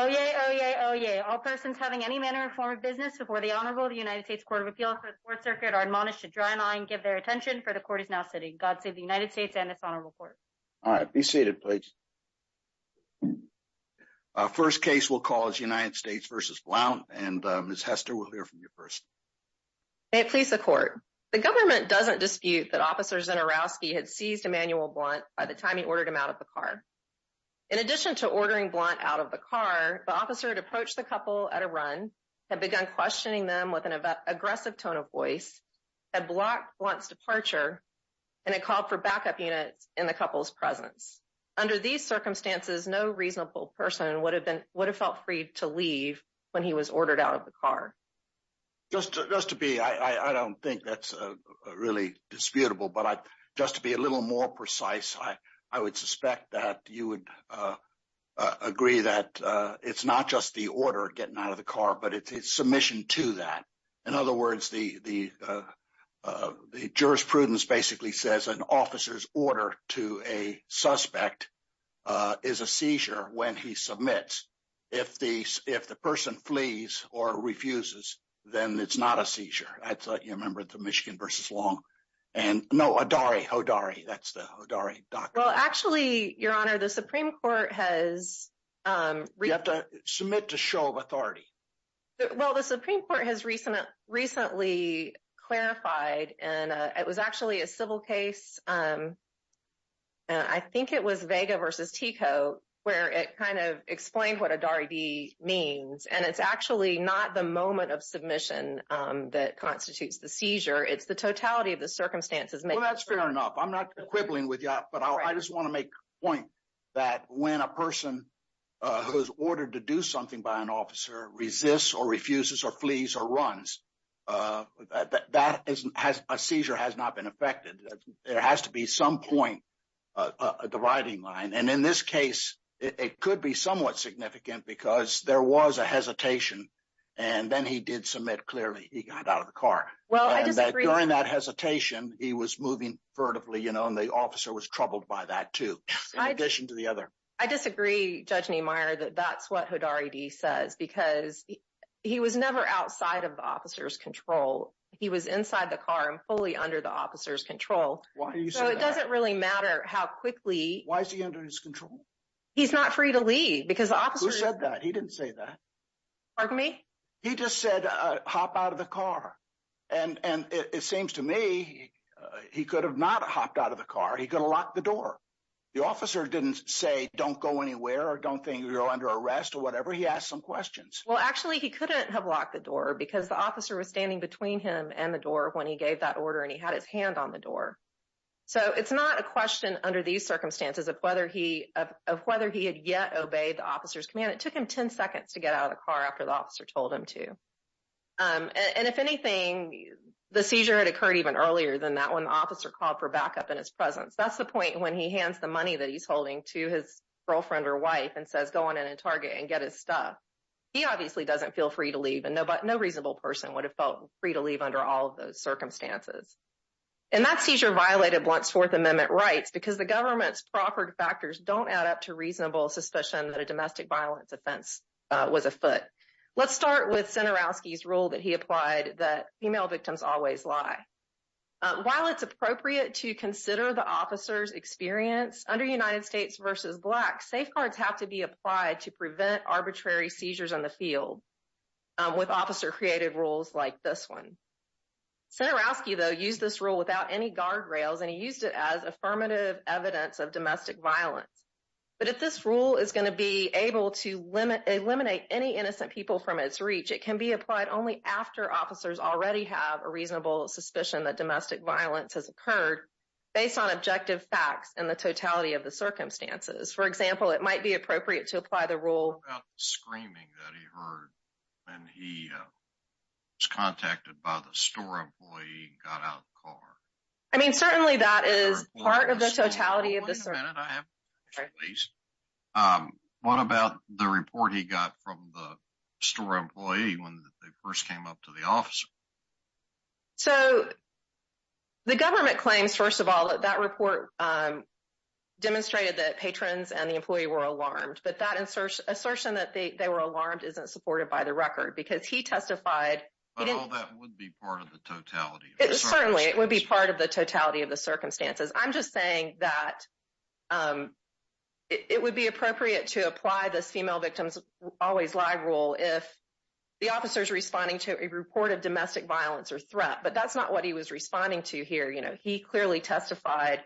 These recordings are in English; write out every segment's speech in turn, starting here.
Oyez, oyez, oyez. All persons having any manner or form of business before the Honorable United States Court of Appeals for the Fourth Circuit are admonished to draw an eye and give their attention, for the Court is now sitting. God save the United States and this Honorable Court. All right. Be seated, please. Our first case we'll call is United States v. Blount, and Ms. Hester, we'll hear from you first. May it please the Court. The government doesn't dispute that Officer Zinorowski had seized Emmanuel Blount by the car. The officer had approached the couple at a run, had begun questioning them with an aggressive tone of voice, had blocked Blount's departure, and had called for backup units in the couple's presence. Under these circumstances, no reasonable person would have felt free to leave when he was ordered out of the car. Just to be, I don't think that's really disputable, but just to be a little more precise, I would suspect that you would agree that it's not just the order getting out of the car, but it's submission to that. In other words, the jurisprudence basically says an officer's order to a suspect is a seizure when he submits. If the person flees or refuses, then it's not a seizure. I thought you remembered the Michigan v. Long. And no, Hodari, Hodari, that's the Hodari doctor. Actually, Your Honor, the Supreme Court has- You have to submit to show of authority. Well, the Supreme Court has recently clarified, and it was actually a civil case. I think it was Vega v. Tico, where it kind of explained what Hodari means. And it's actually not the moment of submission that constitutes the seizure. It's the totality of the circumstances. Well, that's fair enough. I'm not quibbling with you, but I just want to make a point that when a person who's ordered to do something by an officer resists or refuses or flees or runs, a seizure has not been affected. There has to be some point at the riding line. And in this case, it could be somewhat significant because there was a hesitation, and then he did submit clearly. He got out of the car. Well, I disagree. During that hesitation, he was moving furtively, and the officer was troubled by that too, in addition to the other. I disagree, Judge Niemeyer, that that's what Hodari D. says because he was never outside of the officer's control. He was inside the car and fully under the officer's control. Why do you say that? So it doesn't really matter how quickly- Why is he under his control? He's not free to leave because the officer- Who said that? He didn't say that. Pardon me? He just said, hop out of the car. And it seems to me he could have not hopped out of the car. He could have locked the door. The officer didn't say, don't go anywhere or don't think you're under arrest or whatever. He asked some questions. Well, actually, he couldn't have locked the door because the officer was standing between him and the door when he gave that order, and he had his hand on the door. So it's not a question under these circumstances of whether he had yet obeyed the officer's command. It took him 10 minutes. And if anything, the seizure had occurred even earlier than that when the officer called for backup in his presence. That's the point when he hands the money that he's holding to his girlfriend or wife and says, go on in and target and get his stuff. He obviously doesn't feel free to leave, and no reasonable person would have felt free to leave under all of those circumstances. And that seizure violated Blunt's Fourth Amendment rights because the government's proffered factors don't add up to reasonable suspicion that a domestic violence offense was afoot. Let's start with Senarowski's rule that he applied that female victims always lie. While it's appropriate to consider the officer's experience under United States versus Black, safeguards have to be applied to prevent arbitrary seizures on the field with officer-created rules like this one. Senarowski, though, used this rule without any guardrails, and he used it as affirmative evidence of domestic violence. But if this rule is going to be able to eliminate any innocent people from its reach, it can be applied only after officers already have a reasonable suspicion that domestic violence has occurred based on objective facts and the totality of the circumstances. For example, it might be appropriate to apply the rule- About the screaming that he heard when he was contacted by the store employee and got out of the car. I mean, certainly that is part of the totality of the circumstances. What about the report he got from the store employee when they first came up to the officer? So the government claims, first of all, that that report demonstrated that patrons and the employee were alarmed, but that assertion that they were alarmed isn't supported by the record because he testified- But all that would be part of the totality. Certainly, it would be part of the totality of the circumstances. I'm just saying that it would be appropriate to apply this female victims always lie rule if the officer's responding to a report of domestic violence or threat, but that's not what he was responding to here. He clearly testified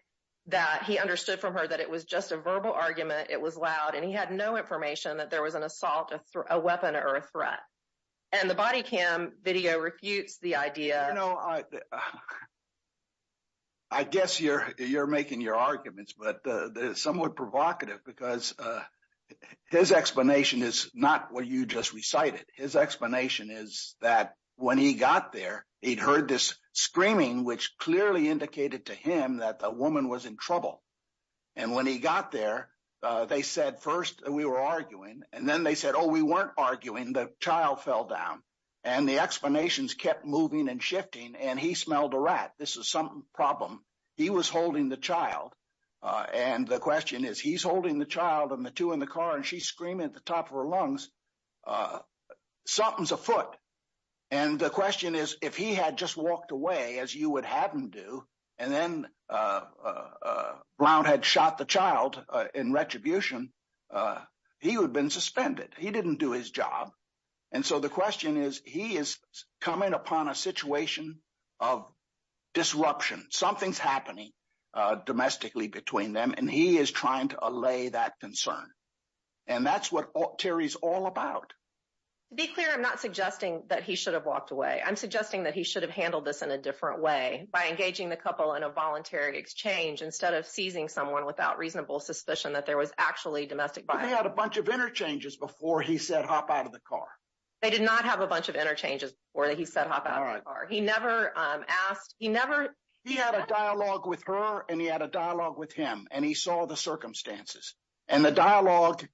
that he understood from her that it was just a verbal argument, it was loud, and he had no information that there was an assault, a weapon, or a threat. The body cam video refutes the idea- I guess you're making your arguments, but they're somewhat provocative because his explanation is not what you just recited. His explanation is that when he got there, he'd heard this screaming, which clearly indicated to him that the woman was in trouble. When he got there, they said, first, we were arguing, and then they said, oh, we weren't arguing, the child fell down. The explanations kept moving and shifting, and he smelled a rat. This is some problem. He was holding the child, and the question is, he's holding the child and the two in the car, and she's screaming at the top of her lungs, something's afoot. The question is, if he had just walked away as you would have him do, and then Brown had shot the child in retribution, he would have been suspended. He didn't do his job, and so the question is, he is coming upon a situation of disruption. Something's happening domestically between them, and he is trying to allay that concern, and that's what Terry's all about. To be clear, I'm not suggesting that he should have walked away. I'm suggesting that he should have handled this in a different way, by engaging the couple in a voluntary exchange instead of seizing someone without reasonable suspicion that there was actually domestic violence. They had a bunch of interchanges before he said, hop out of the car. They did not have a bunch of interchanges before he said, hop out of the car. He never asked. He had a dialogue with her, and he had a dialogue with him, and he saw the circumstances, and the dialogue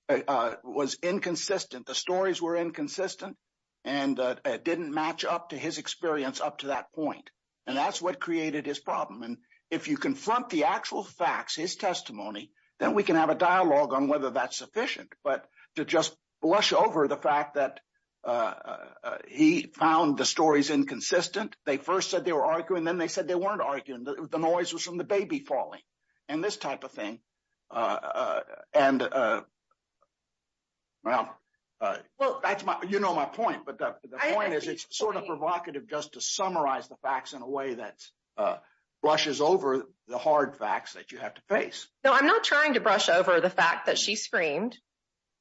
was inconsistent. The stories were inconsistent, and it didn't match up to his experience up to that point, and that's what created his problem, and if you confront the actual facts, his testimony, then we can have a dialogue on whether that's sufficient, but to just blush over the fact that he found the stories inconsistent. They first said they were arguing, and then they said they weren't arguing. The noise was from the baby falling and this type of thing, and well, that's my, you know my point, but the point is it's sort of provocative just to summarize the facts in a way that brushes over the hard facts that you have to face. No, I'm not trying to brush over the fact that she screamed,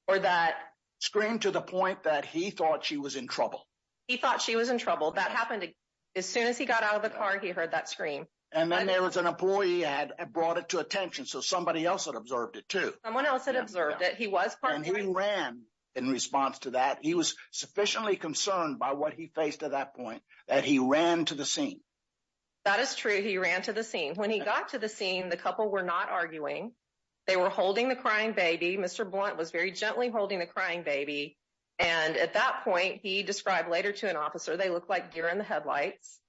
or that- Screamed to the point that he thought she was in trouble. He thought she was in trouble. That happened as soon as he got out of the car, he heard that scream. And then there was an employee had brought it to attention, so somebody else had observed it too. Someone else had observed it. He was part of the- And he ran in response to that. He was sufficiently concerned by what he faced at that point that he ran to the scene. That is true. He ran to the scene. When he got to the scene, the couple were not arguing. They were holding the crying baby. Mr. Blunt was very gently holding the crying baby, and at that point, he described later to an officer, they looked like deer in the headlights,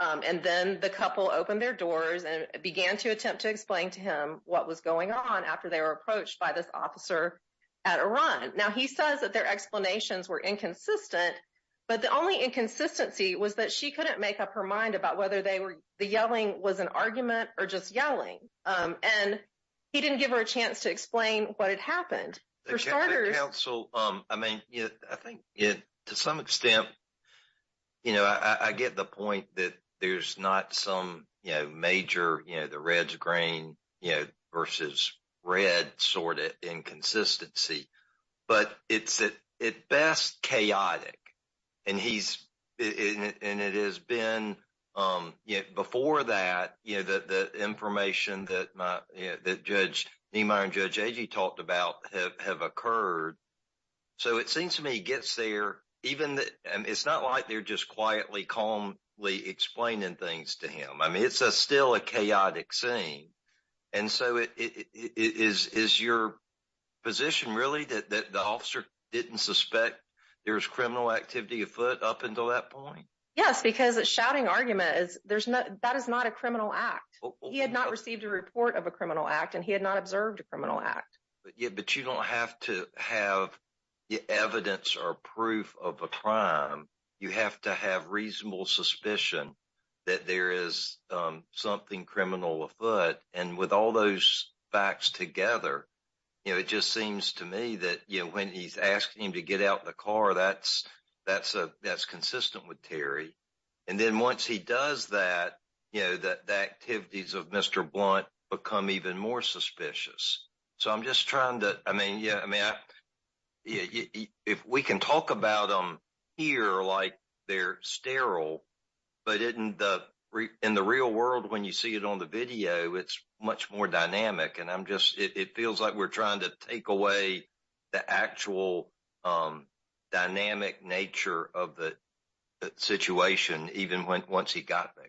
and then the couple opened their doors and began to attempt to explain to him what was going on after they were approached by this officer at a run. Now, he says that their explanations were inconsistent, but the only inconsistency was that she couldn't make up her mind about whether the yelling was an argument or just yelling, and he didn't give her a chance to explain what had happened. For starters- I mean, I think to some extent, I get the point that there's not some major, the red's grain versus red sort of inconsistency, but it's at best chaotic, and it has been before that, the information that Judge Niemeyer and Judge Agee talked about have occurred. So, it seems to me he gets there, and it's not like they're just quietly, calmly explaining things to him. I mean, it's still a chaotic scene, and so is your position really that the officer didn't suspect there was criminal activity afoot up until that point? Yes, because a shouting argument, that is not a criminal act. He had not received a report of a criminal act, and he had not observed a criminal act. But you don't have to have evidence or proof of a crime. You have to have reasonable suspicion that there is something criminal afoot, and with all those facts together, it just seems to me that when he's asking him to get out the car, that's consistent with Terry. And then once he does that, you know, the activities of Mr. Blunt become even more suspicious. So, I'm just trying to, I mean, yeah, I mean, if we can talk about them here like they're sterile, but in the real world, when you see it on the video, it's much more dynamic, and I'm just, it feels like we're trying to take away the actual dynamic nature of the situation even once he got there.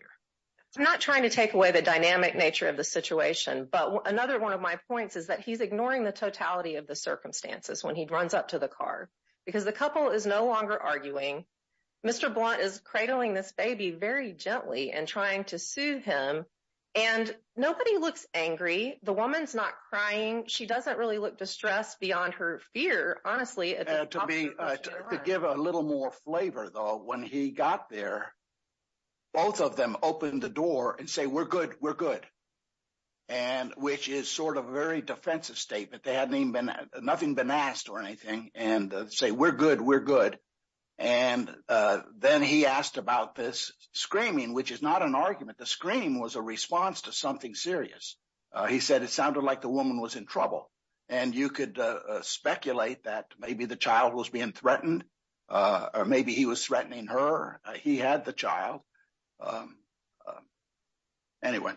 I'm not trying to take away the dynamic nature of the situation, but another one of my points is that he's ignoring the totality of the circumstances when he runs up to the car, because the couple is no longer arguing. Mr. Blunt is cradling this baby very gently and trying to her fear, honestly. To give a little more flavor though, when he got there, both of them opened the door and say, we're good, we're good. And which is sort of a very defensive statement. They hadn't even been, nothing been asked or anything, and say, we're good, we're good. And then he asked about this screaming, which is not an argument. The scream was a response to something serious. He said it sounded like the woman was in trouble, and you could speculate that maybe the child was being threatened, or maybe he was threatening her. He had the child. Anyway,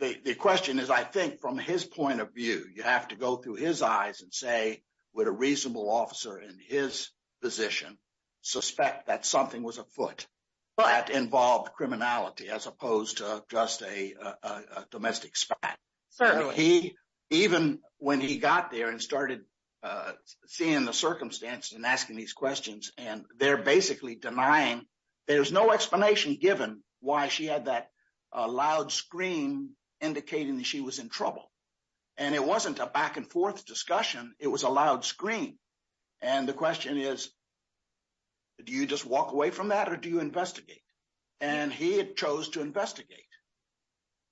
the question is, I think, from his point of view, you have to go through his eyes and say, would a reasonable officer in his position suspect that something was afoot that involved criminality as opposed to just a domestic spat? Certainly. He, even when he got there and started seeing the circumstances and asking these questions, and they're basically denying, there's no explanation given why she had that loud scream indicating that she was in trouble. And it wasn't a back and forth discussion. It was a loud scream. And the question is, do you just walk away from that or do you investigate? And he chose to investigate.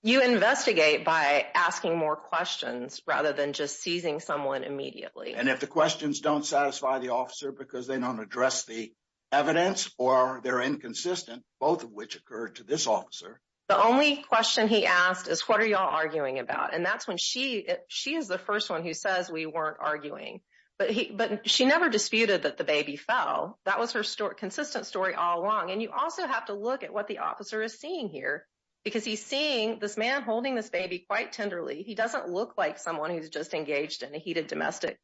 You investigate by asking more questions rather than just seizing someone immediately. And if the questions don't satisfy the officer because they don't address the evidence or they're inconsistent, both of which occurred to this officer. The only question he asked is, what are y'all arguing about? And that's when she is the first one who says we weren't arguing. But she never disputed that the baby fell. That was her consistent story all along. And you also have to look at what the officer is seeing here, because he's seeing this man holding this baby quite tenderly. He doesn't look like someone who's just engaged in a heated domestic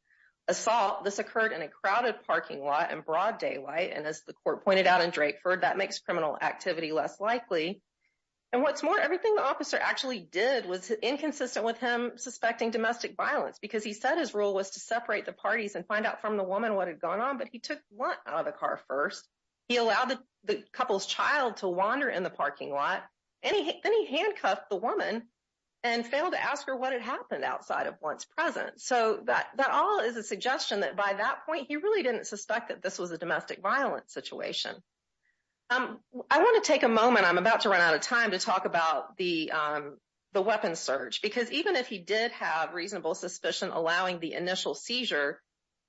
assault. This occurred in a crowded parking lot in broad daylight. And as the court pointed out in Drakeford, that makes criminal activity less likely. And what's more, everything the officer actually did was inconsistent with him suspecting domestic violence because he said his role was to separate the parties and find out from the woman what had gone on. But he took one out of the car first. He allowed the couple's child to wander in the parking lot. Then he handcuffed the woman and failed to ask her what had happened outside of Blount's presence. So that all is a suggestion that by that point, he really didn't suspect that this was a domestic violence situation. I want to take a moment, I'm about to run out of time, to talk about the weapon search. Because even if he did have reasonable suspicion allowing the initial seizure,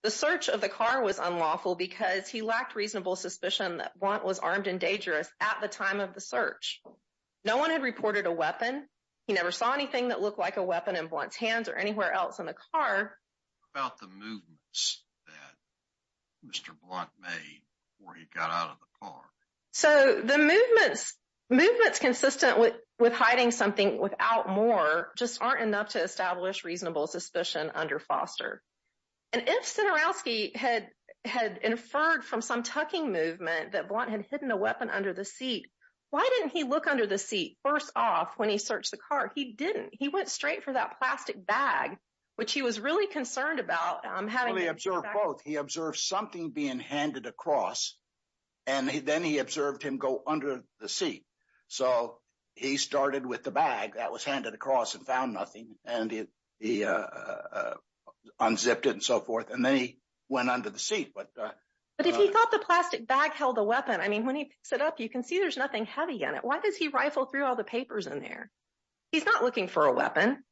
the search of the car was unlawful because he lacked reasonable suspicion that Blount was armed and dangerous at the time of the search. No one had reported a weapon. He never saw anything that looked like a weapon in Blount's hands or anywhere else in the car. What about the movements that Mr. Blount made before he got out of the car? So the movements consistent with hiding something without more just aren't enough to establish reasonable suspicion under Foster. And if Sidorowski had inferred from some tucking movement that Blount had hidden a weapon under the seat, why didn't he look under the seat first off when he searched the car? He didn't. He went straight for that plastic bag, which he was really concerned about. He observed both. He observed something being handed across and then he observed him go under the seat. So he started with the bag that was handed across and found nothing and he unzipped it and so forth. And then he went under the seat. But if he thought the plastic bag held a weapon, I mean, when he picks it up, you can see there's nothing heavy in it. Why does he rifle through all the papers in there? He's not looking for a weapon.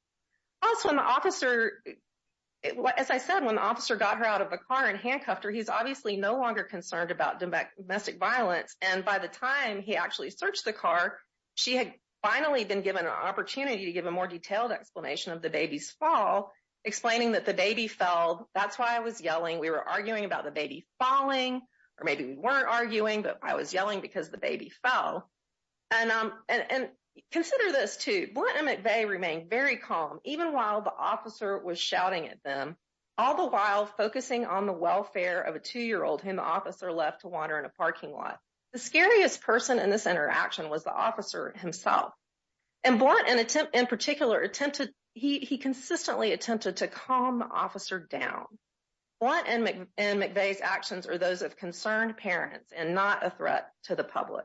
Also, when the officer, as I said, when the officer got her out of the car and handcuffed her, he's obviously no longer concerned about domestic violence. And by the time he actually searched the car, she had finally been given an opportunity to give a more detailed explanation of the baby's fall, explaining that the baby fell. That's why I was yelling. We were arguing about the baby falling, or maybe we weren't arguing, but I was yelling because the baby fell. And consider this too. Blount and McVeigh remained very calm, even while the officer was shouting at them, all the while focusing on the welfare of a two-year-old whom the officer left to wander in a parking lot. The scariest person in this interaction was the officer himself. And Blount, in particular, attempted, he consistently attempted to calm the officer down. Blount and McVeigh's actions are those of concerned parents and not a threat to the public.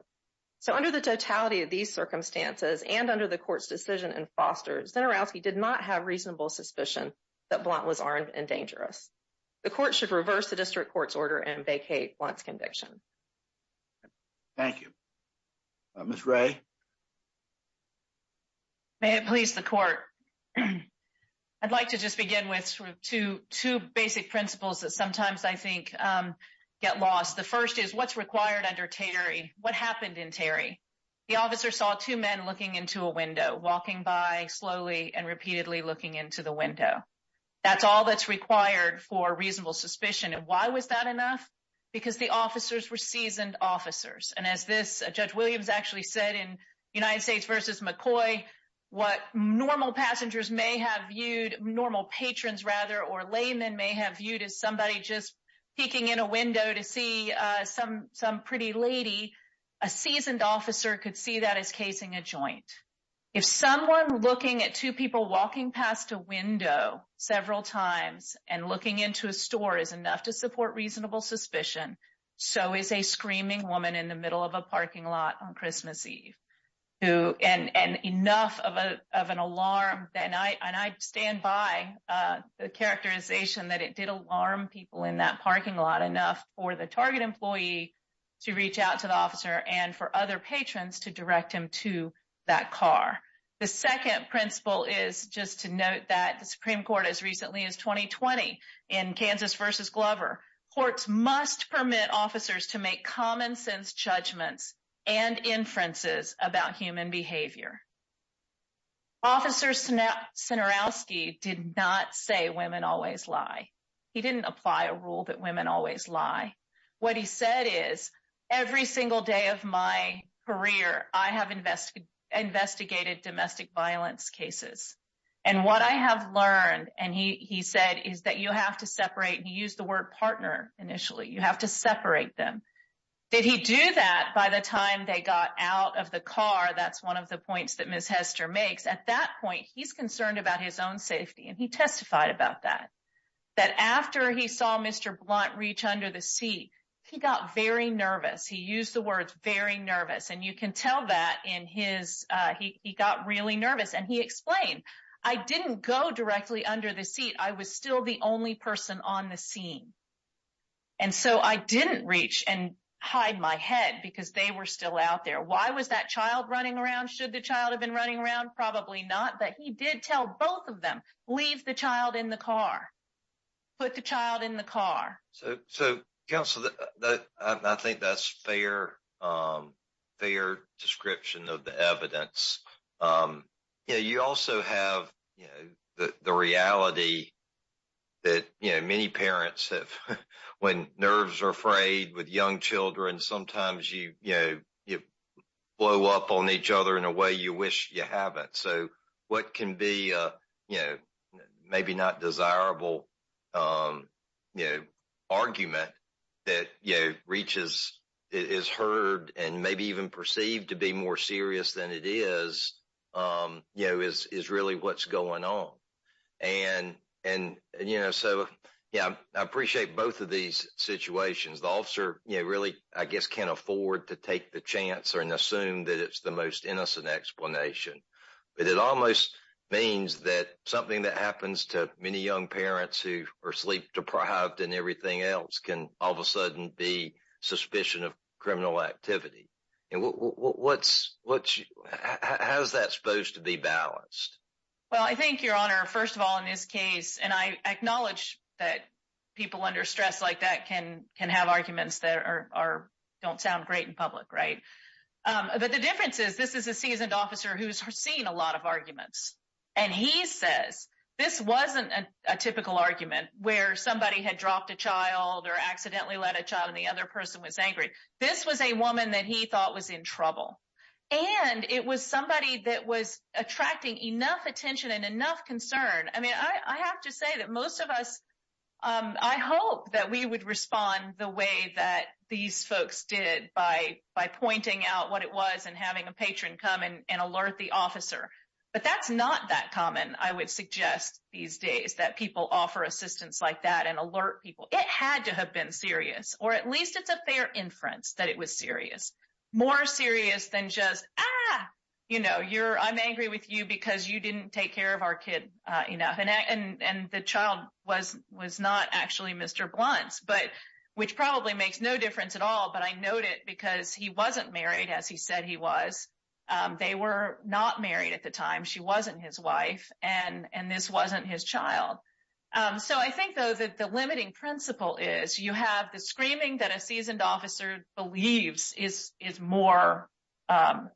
So under the totality of these circumstances and under the court's decision in Foster, Zinorowski did not have reasonable suspicion that Blount was armed and dangerous. The court should reverse the district court's order and vacate Blount's conviction. Thank you. Ms. Ray. May it please the court. I'd like to just begin with two basic principles that sometimes I think get lost. The first is what's required under Terry? What happened in Terry? The officer saw two men looking into a window, walking by slowly and repeatedly looking into the window. That's all that's required for reasonable suspicion. And why was that enough? Because the officers were seasoned officers. And as this Judge Williams actually said in United States versus McCoy, what normal passengers may have viewed, normal patrons rather or laymen may have viewed as somebody just peeking in a window to see some pretty lady, a seasoned officer could see that as casing a joint. If someone looking at two people walking past a window several times and looking into a store is enough to support reasonable suspicion, so is a screaming woman in the middle of a parking lot on Christmas Eve. And enough of an alarm, and I stand by the characterization that it did alarm people in that parking lot enough for the target employee to reach out to the officer and for other patrons to note that the Supreme Court as recently as 2020 in Kansas versus Glover, courts must permit officers to make common sense judgments and inferences about human behavior. Officer Sinerowski did not say women always lie. He didn't apply a rule that women always lie. What he said is, every single day of my career, I have investigated domestic violence cases. And what I have learned, and he said is that you have to separate, he used the word partner initially, you have to separate them. Did he do that by the time they got out of the car? That's one of the points that Ms. Hester makes. At that point, he's concerned about his own safety and he testified about that. That after he saw Mr. Blunt reach under the seat, he got very nervous. He used words, very nervous. And you can tell that in his, he got really nervous and he explained, I didn't go directly under the seat. I was still the only person on the scene. And so I didn't reach and hide my head because they were still out there. Why was that child running around? Should the child have been running around? Probably not, but he did tell both of them, leave the child in the car, put the child in the car. So counsel, I think that's fair description of the evidence. You also have the reality that many parents have, when nerves are frayed with young children, sometimes you blow up on argument that reaches, is heard and maybe even perceived to be more serious than it is, is really what's going on. And so I appreciate both of these situations. The officer really, I guess, can't afford to take the chance and assume that it's the most innocent explanation. But it almost means that something that happens to many young parents who are sleep deprived and everything else can all of a sudden be suspicion of criminal activity. And what's, how's that supposed to be balanced? Well, I think your honor, first of all, in this case, and I acknowledge that people under stress like that can have arguments that are, don't sound great in public, right? But the difference is this is a seasoned officer who's seen a lot of or accidentally let a child and the other person was angry. This was a woman that he thought was in trouble. And it was somebody that was attracting enough attention and enough concern. I mean, I have to say that most of us, I hope that we would respond the way that these folks did by pointing out what it was and having a patron come and alert the officer. But that's not that common. I would suggest these days that people offer assistance like that and it had to have been serious, or at least it's a fair inference that it was serious, more serious than just, ah, you know, you're, I'm angry with you because you didn't take care of our kid enough. And the child was not actually Mr. Blunt, but which probably makes no difference at all. But I note it because he wasn't married as he said he was. They were not married at the have the screaming that a seasoned officer believes is more, um,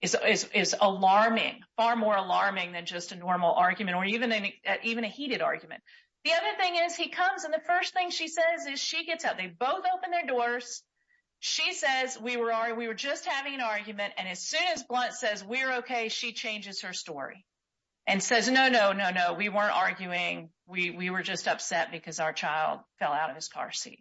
is alarming, far more alarming than just a normal argument or even a heated argument. The other thing is he comes and the first thing she says is she gets out. They both open their doors. She says, we were just having an argument. And as soon as Blunt says, we're okay, she changes her story and says, no, no, we weren't arguing. We were just upset because our child fell out of his car seat.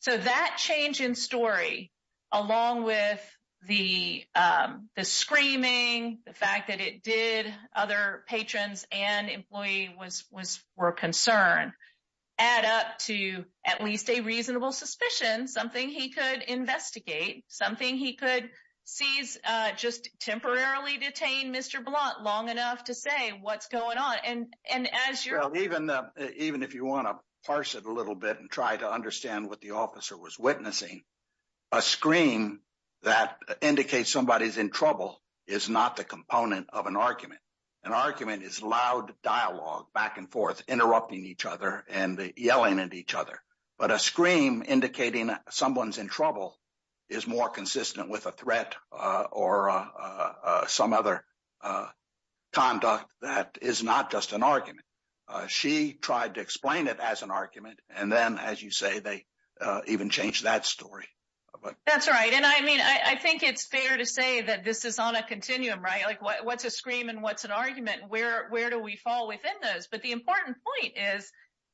So that change in story, along with the, um, the screaming, the fact that it did other patrons and employee was, was, were concerned add up to at least a reasonable suspicion, something he could investigate, something he could seize, uh, just temporarily detained Mr. Blunt long enough to say what's going on. And, and as you're even, uh, even if you want to parse it a little bit and try to understand what the officer was witnessing, a scream that indicates somebody's in trouble is not the component of an argument. An argument is loud dialogue back and forth, interrupting each other and yelling at each other. But a scream indicating someone's in trouble is more consistent with a threat, uh, or, uh, uh, some other, uh, conduct that is not just an argument. Uh, she tried to explain it as an argument. And then as you say, they, uh, even changed that story. That's right. And I mean, I think it's fair to say that this is on a continuum, right? Like what, what's a scream and what's an argument where, where do we fall within those? But the important point is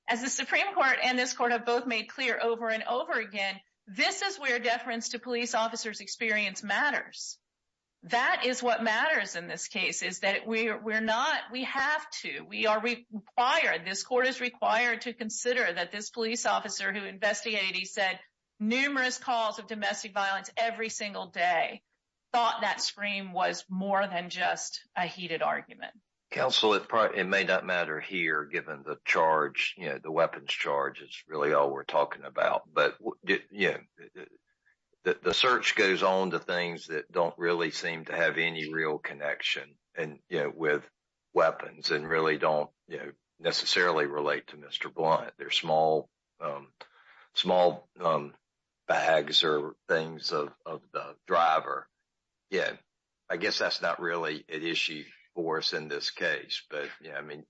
as the Supreme court and this court have both made clear over and over again, this is where deference to police officers experience matters. That is what matters in this case is that we're, we're not, we have to, we are required, this court is required to consider that this police officer who investigated, he said numerous calls of domestic violence every single day thought that scream was more than just a heated argument. Counsel, it, it may not matter here given the charge, you know, the weapons charge is really all we're talking about. But yeah, the search goes on to things that don't really seem to have any real connection and, you know, with weapons and really don't necessarily relate to Mr. Blunt. They're small, small, um, bags or things of, of the driver. Yeah. I guess that's not really an issue for us in this case, but yeah, I mean,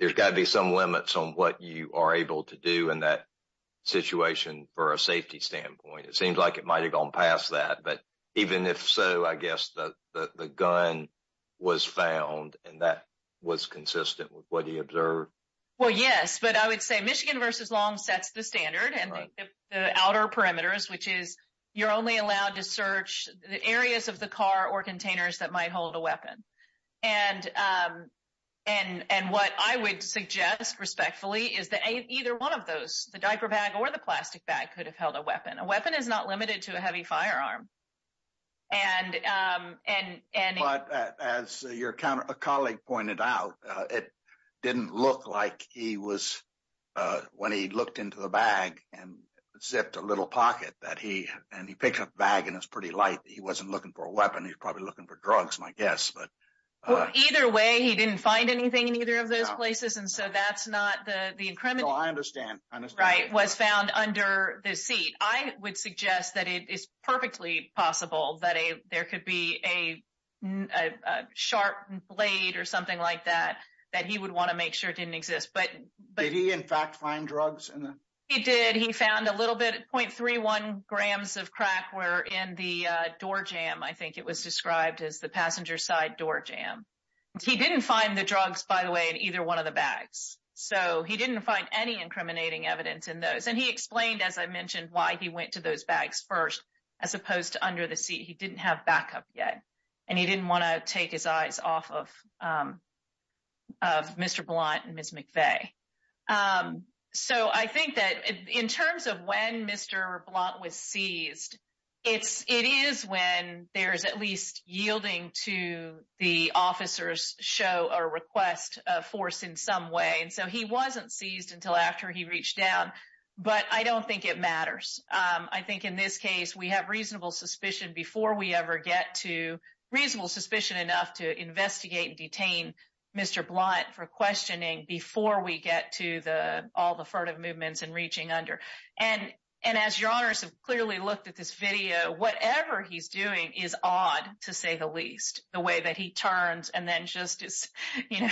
there's gotta be some limits on what you are able to do in that situation for a safety standpoint. It seems like it might've gone past that, but even if so, I guess the, the, the gun was found and that was consistent with what he observed. Well, yes, but I would say Michigan versus Long sets the standard and the outer perimeters, which is you're only allowed to search the areas of the car or containers that might hold a weapon. And, um, and, and what I would suggest respectfully is that either one of those, the diaper bag or the plastic bag could have held a weapon. A weapon is not limited to a heavy firearm. And, um, and, and as your counter, a colleague pointed out, uh, it didn't look like he was, uh, when he looked into the bag and zipped a little pocket that he, and he picked up the bag and it was pretty light. He wasn't looking for a weapon. He was probably looking for drugs, my guess, but, uh. Either way, he didn't find anything in either of those places. And so that's not the, the increment. No, I understand. I understand. Right. Was found under the seat. I would suggest that it is perfectly possible that a, there could be a, a, a sharp blade or something like that, that he would want to make sure it didn't exist. Did he in fact find drugs? He did. He found a little bit, 0.31 grams of crack were in the, uh, door jam. I think it was described as the passenger side door jam. He didn't find the drugs, by the way, in either one of the bags. So he didn't find any incriminating evidence in those. And he explained, as I mentioned, why he went to those bags first, as opposed to under the seat, he didn't have backup yet. And he didn't want to take his eyes off of, um, of Mr. Blunt and Ms. McVeigh. Um, so I think that in terms of when Mr. Blunt was seized, it's, it is when there's at least yielding to the officers show or request a force in some way. And so he wasn't seized until after he reached down, but I don't think it matters. Um, I think in this case, we have reasonable suspicion before we ever get to reasonable suspicion enough to investigate and questioning before we get to the, all the furtive movements and reaching under. And, and as your honors have clearly looked at this video, whatever he's doing is odd to say the least the way that he turns. And then just as, you know,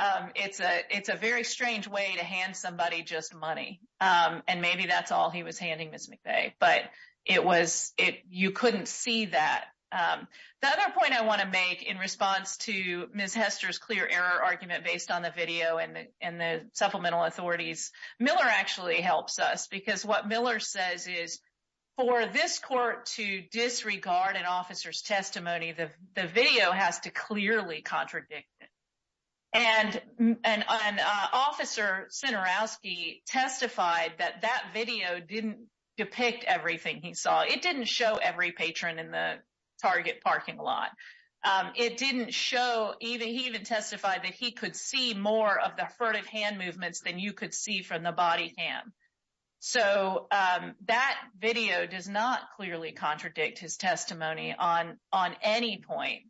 um, it's a, it's a very strange way to hand somebody just money. Um, and maybe that's all he was handing Ms. McVeigh, but it was, it, you couldn't see that. Um, the other point I want to make in response to Ms. Hester's clear argument based on the video and the, and the supplemental authorities, Miller actually helps us because what Miller says is for this court to disregard an officer's testimony, the, the video has to clearly contradict it. And, and, and, uh, officer Centerowski testified that that video didn't depict everything he saw. It didn't show every patron in the target parking lot. Um, it didn't show either. He even testified that he could see more of the furtive hand movements than you could see from the body cam. So, um, that video does not clearly contradict his testimony on, on any point.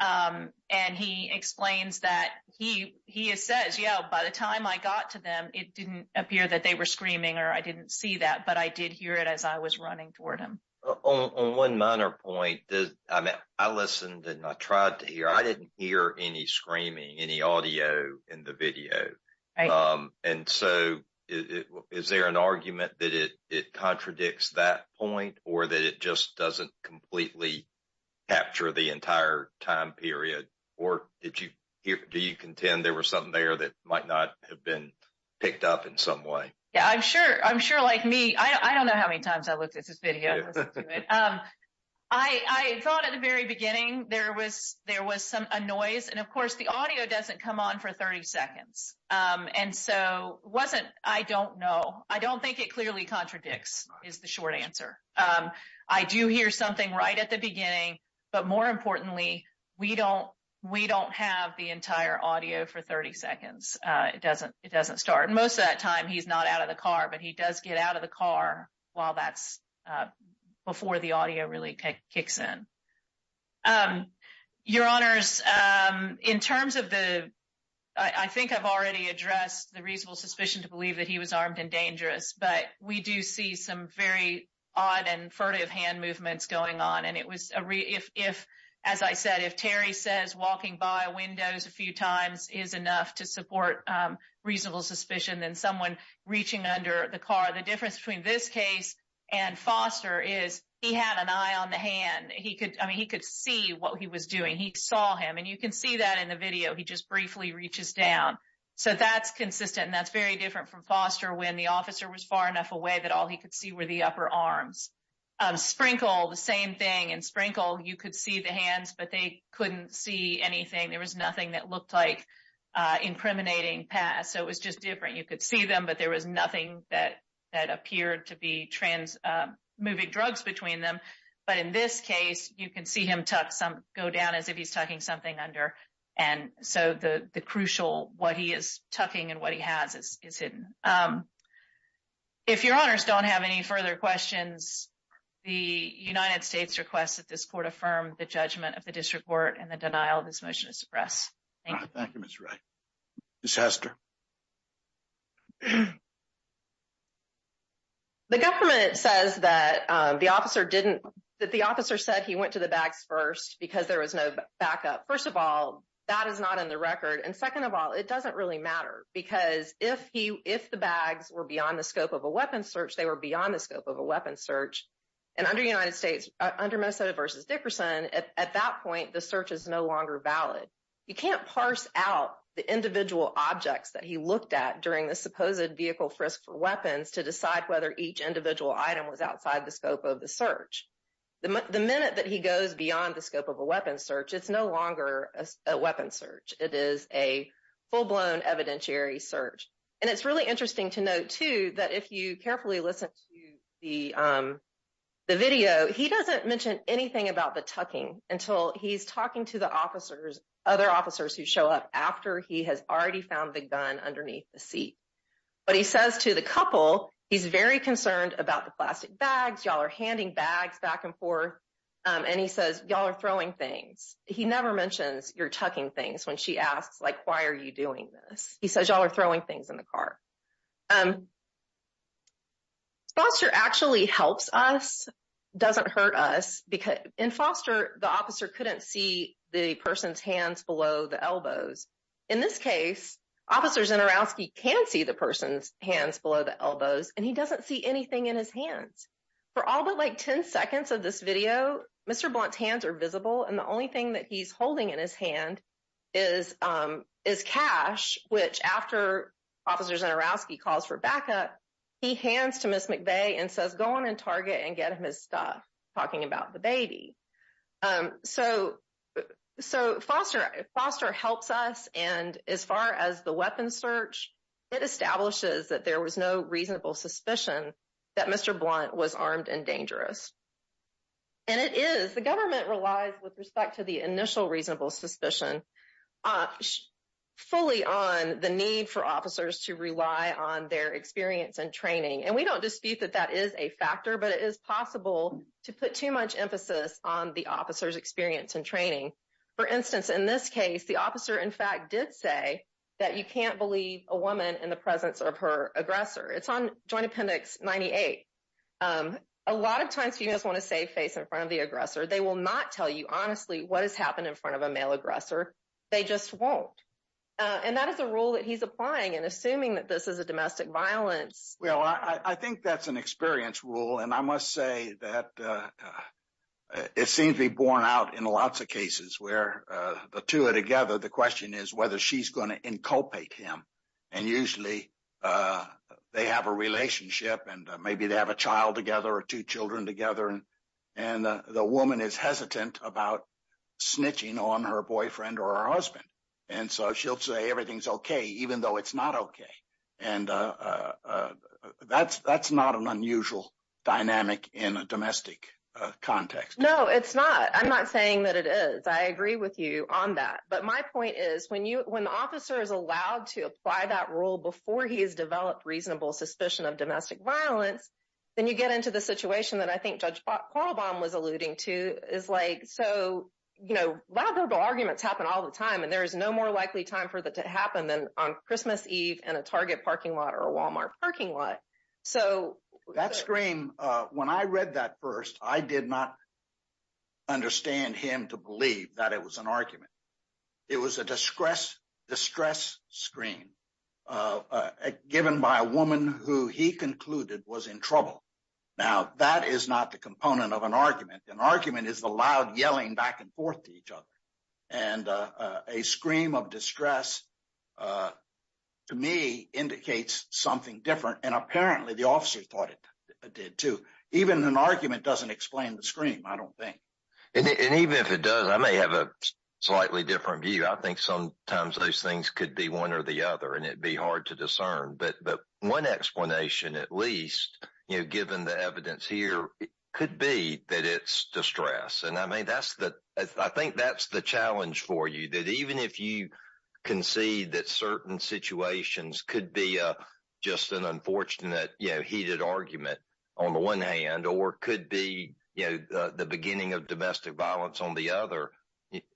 Um, and he explains that he, he has says, yeah, by the time I got to them, it didn't appear that they were screaming or I didn't see that, but I did hear it as I was running toward him. On one minor point, I listened and I tried to hear, I didn't hear any screaming, any audio in the video. Um, and so is there an argument that it, it contradicts that point or that it just doesn't completely capture the entire time period? Or did you hear, do you contend there was something there that might not have been picked up in some way? Yeah, I'm sure, I'm sure many times I looked at this video. Um, I, I thought at the very beginning there was, there was some, a noise and of course the audio doesn't come on for 30 seconds. Um, and so wasn't, I don't know. I don't think it clearly contradicts is the short answer. Um, I do hear something right at the beginning, but more importantly, we don't, we don't have the entire audio for 30 seconds. Uh, it doesn't, it doesn't start. Most of that time he's not out of the car, but he does get out of the car while that's, uh, before the audio really kicks in. Um, your honors, um, in terms of the, I think I've already addressed the reasonable suspicion to believe that he was armed and dangerous, but we do see some very odd and furtive hand movements going on. And it was a re if, if, as I said, if Terry says walking by windows a few times is enough to support, um, reaching under the car. The difference between this case and Foster is he had an eye on the hand. He could, I mean, he could see what he was doing. He saw him and you can see that in the video. He just briefly reaches down. So that's consistent. And that's very different from Foster when the officer was far enough away that all he could see were the upper arms, um, sprinkle the same thing and sprinkle. You could see the hands, but they couldn't see anything. There was nothing that that appeared to be trans, uh, moving drugs between them. But in this case, you can see him tuck some go down as if he's talking something under. And so the, the crucial, what he is tucking and what he has is, is hidden. Um, if your honors don't have any further questions, the United States requests that this court affirm the judgment of the district court and the denial of this motion to suppress. Thank you. Thank you. Miss Ray disaster. The government says that, um, the officer didn't that the officer said he went to the bags first because there was no backup. First of all, that is not in the record. And second of all, it doesn't really matter because if he, if the bags were beyond the scope of a weapon search, they were beyond the scope of a weapon search. And under United States, under Minnesota versus Dickerson at that point, the search is no longer valid. You can't parse out the individual objects that he looked at during the supposed vehicle frisk for weapons to decide whether each individual item was outside the scope of the search. The minute that he goes beyond the scope of a weapon search, it's no longer a weapon search. It is a full blown evidentiary search. And it's really interesting to note too, that if you carefully listen to the, um, the video, he doesn't mention anything about the tucking until he's talking to the officers, other officers who show up after he has already found the gun underneath the seat. But he says to the couple, he's very concerned about the plastic bags. Y'all are handing bags back and forth. Um, and he says, y'all are throwing things. He never mentions you're tucking things when she asks, like, why are you doing this? He says, y'all are throwing things in the car. Um, Foster actually helps us, doesn't hurt us because in Foster, the officer couldn't see the person's hands below the elbows. In this case, officers in Orowski can see the person's hands below the elbows, and he doesn't see anything in his hands. For all but like 10 seconds of this video, Mr. Blount's hands are visible. And the only thing he's holding in his hand is, um, is cash, which after officers in Orowski calls for backup, he hands to Ms. McVeigh and says, go on and target and get him his stuff, talking about the baby. Um, so, so Foster, Foster helps us. And as far as the weapon search, it establishes that there was no reasonable suspicion that Mr. Blount was armed and dangerous. And it is, the government relies with respect to the initial reasonable suspicion, fully on the need for officers to rely on their experience and training. And we don't dispute that that is a factor, but it is possible to put too much emphasis on the officer's experience and training. For instance, in this case, the officer in fact did say that you can't believe a woman in presence of her aggressor. It's on joint appendix 98. Um, a lot of times you just want to save face in front of the aggressor. They will not tell you honestly what has happened in front of a male aggressor. They just won't. Uh, and that is a rule that he's applying and assuming that this is a domestic violence. Well, I think that's an experience rule. And I must say that, uh, it seems to be borne out in lots of cases where, uh, the two are together. The question is whether she's going to inculpate him. And usually, uh, they have a relationship and maybe they have a child together or two children together. And, and, uh, the woman is hesitant about snitching on her boyfriend or her husband. And so she'll say everything's okay, even though it's not okay. And, uh, uh, uh, that's, that's not an unusual dynamic in a domestic context. No, it's not. I'm not saying that it is. I agree with you on that. But my point is, when the officer is allowed to apply that rule before he has developed reasonable suspicion of domestic violence, then you get into the situation that I think Judge Qualbaum was alluding to is like, so, you know, verbal arguments happen all the time and there is no more likely time for that to happen than on Christmas Eve and a Target parking lot or a Walmart parking lot. So that scream, uh, when I read that first, I did not understand him to believe that it was an argument. It was a distress, distress scream, uh, uh, given by a woman who he concluded was in trouble. Now, that is not the component of an argument. An argument is the loud yelling back and forth to each other. And, uh, uh, a scream of distress, uh, to me indicates something different. And apparently the officer thought it did too. Even an argument doesn't explain the scream. I don't I think sometimes those things could be one or the other and it'd be hard to discern. But, but one explanation, at least, you know, given the evidence here could be that it's distress. And I mean, that's the, I think that's the challenge for you that even if you can see that certain situations could be, uh, just an unfortunate, you know, heated argument on the one hand, or could be, you know, uh, the beginning of domestic violence on the other.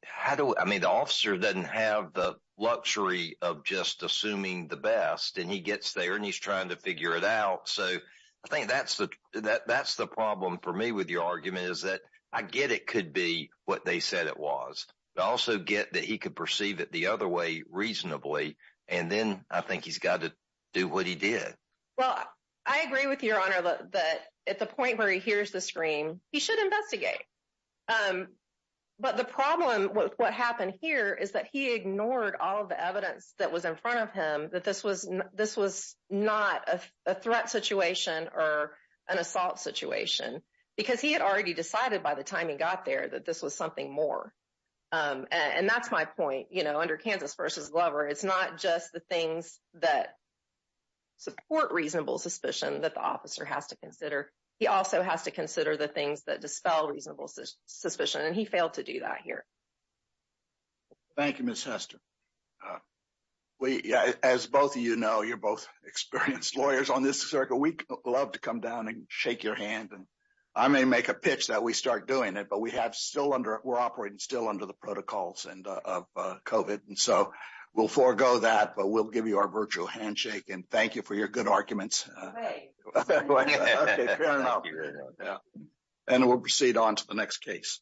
How do I mean, the officer doesn't have the luxury of just assuming the best and he gets there and he's trying to figure it out. So I think that's the, that that's the problem for me with your argument is that I get, it could be what they said it was, but also get that he could perceive it the other way reasonably. And then I think he's got to do what he did. Well, I agree with your honor that at the point where he hears the scream, he should investigate. Um, but the problem with what happened here is that he ignored all of the evidence that was in front of him, that this was, this was not a threat situation or an assault situation because he had already decided by the time he got there, that this was something more. Um, and that's my point, you know, under Kansas versus Glover, it's not just the reasonable suspicion that the officer has to consider. He also has to consider the things that dispel reasonable suspicion. And he failed to do that here. Thank you, Ms. Hester. Uh, we, as both of you know, you're both experienced lawyers on this circle. We love to come down and shake your hand. And I may make a pitch that we start doing it, but we have still under, we're operating still under the protocols and, uh, uh, COVID. And so we'll forego that, but we'll give you our virtual handshake and thank you for your good arguments. And we'll proceed on to the next case.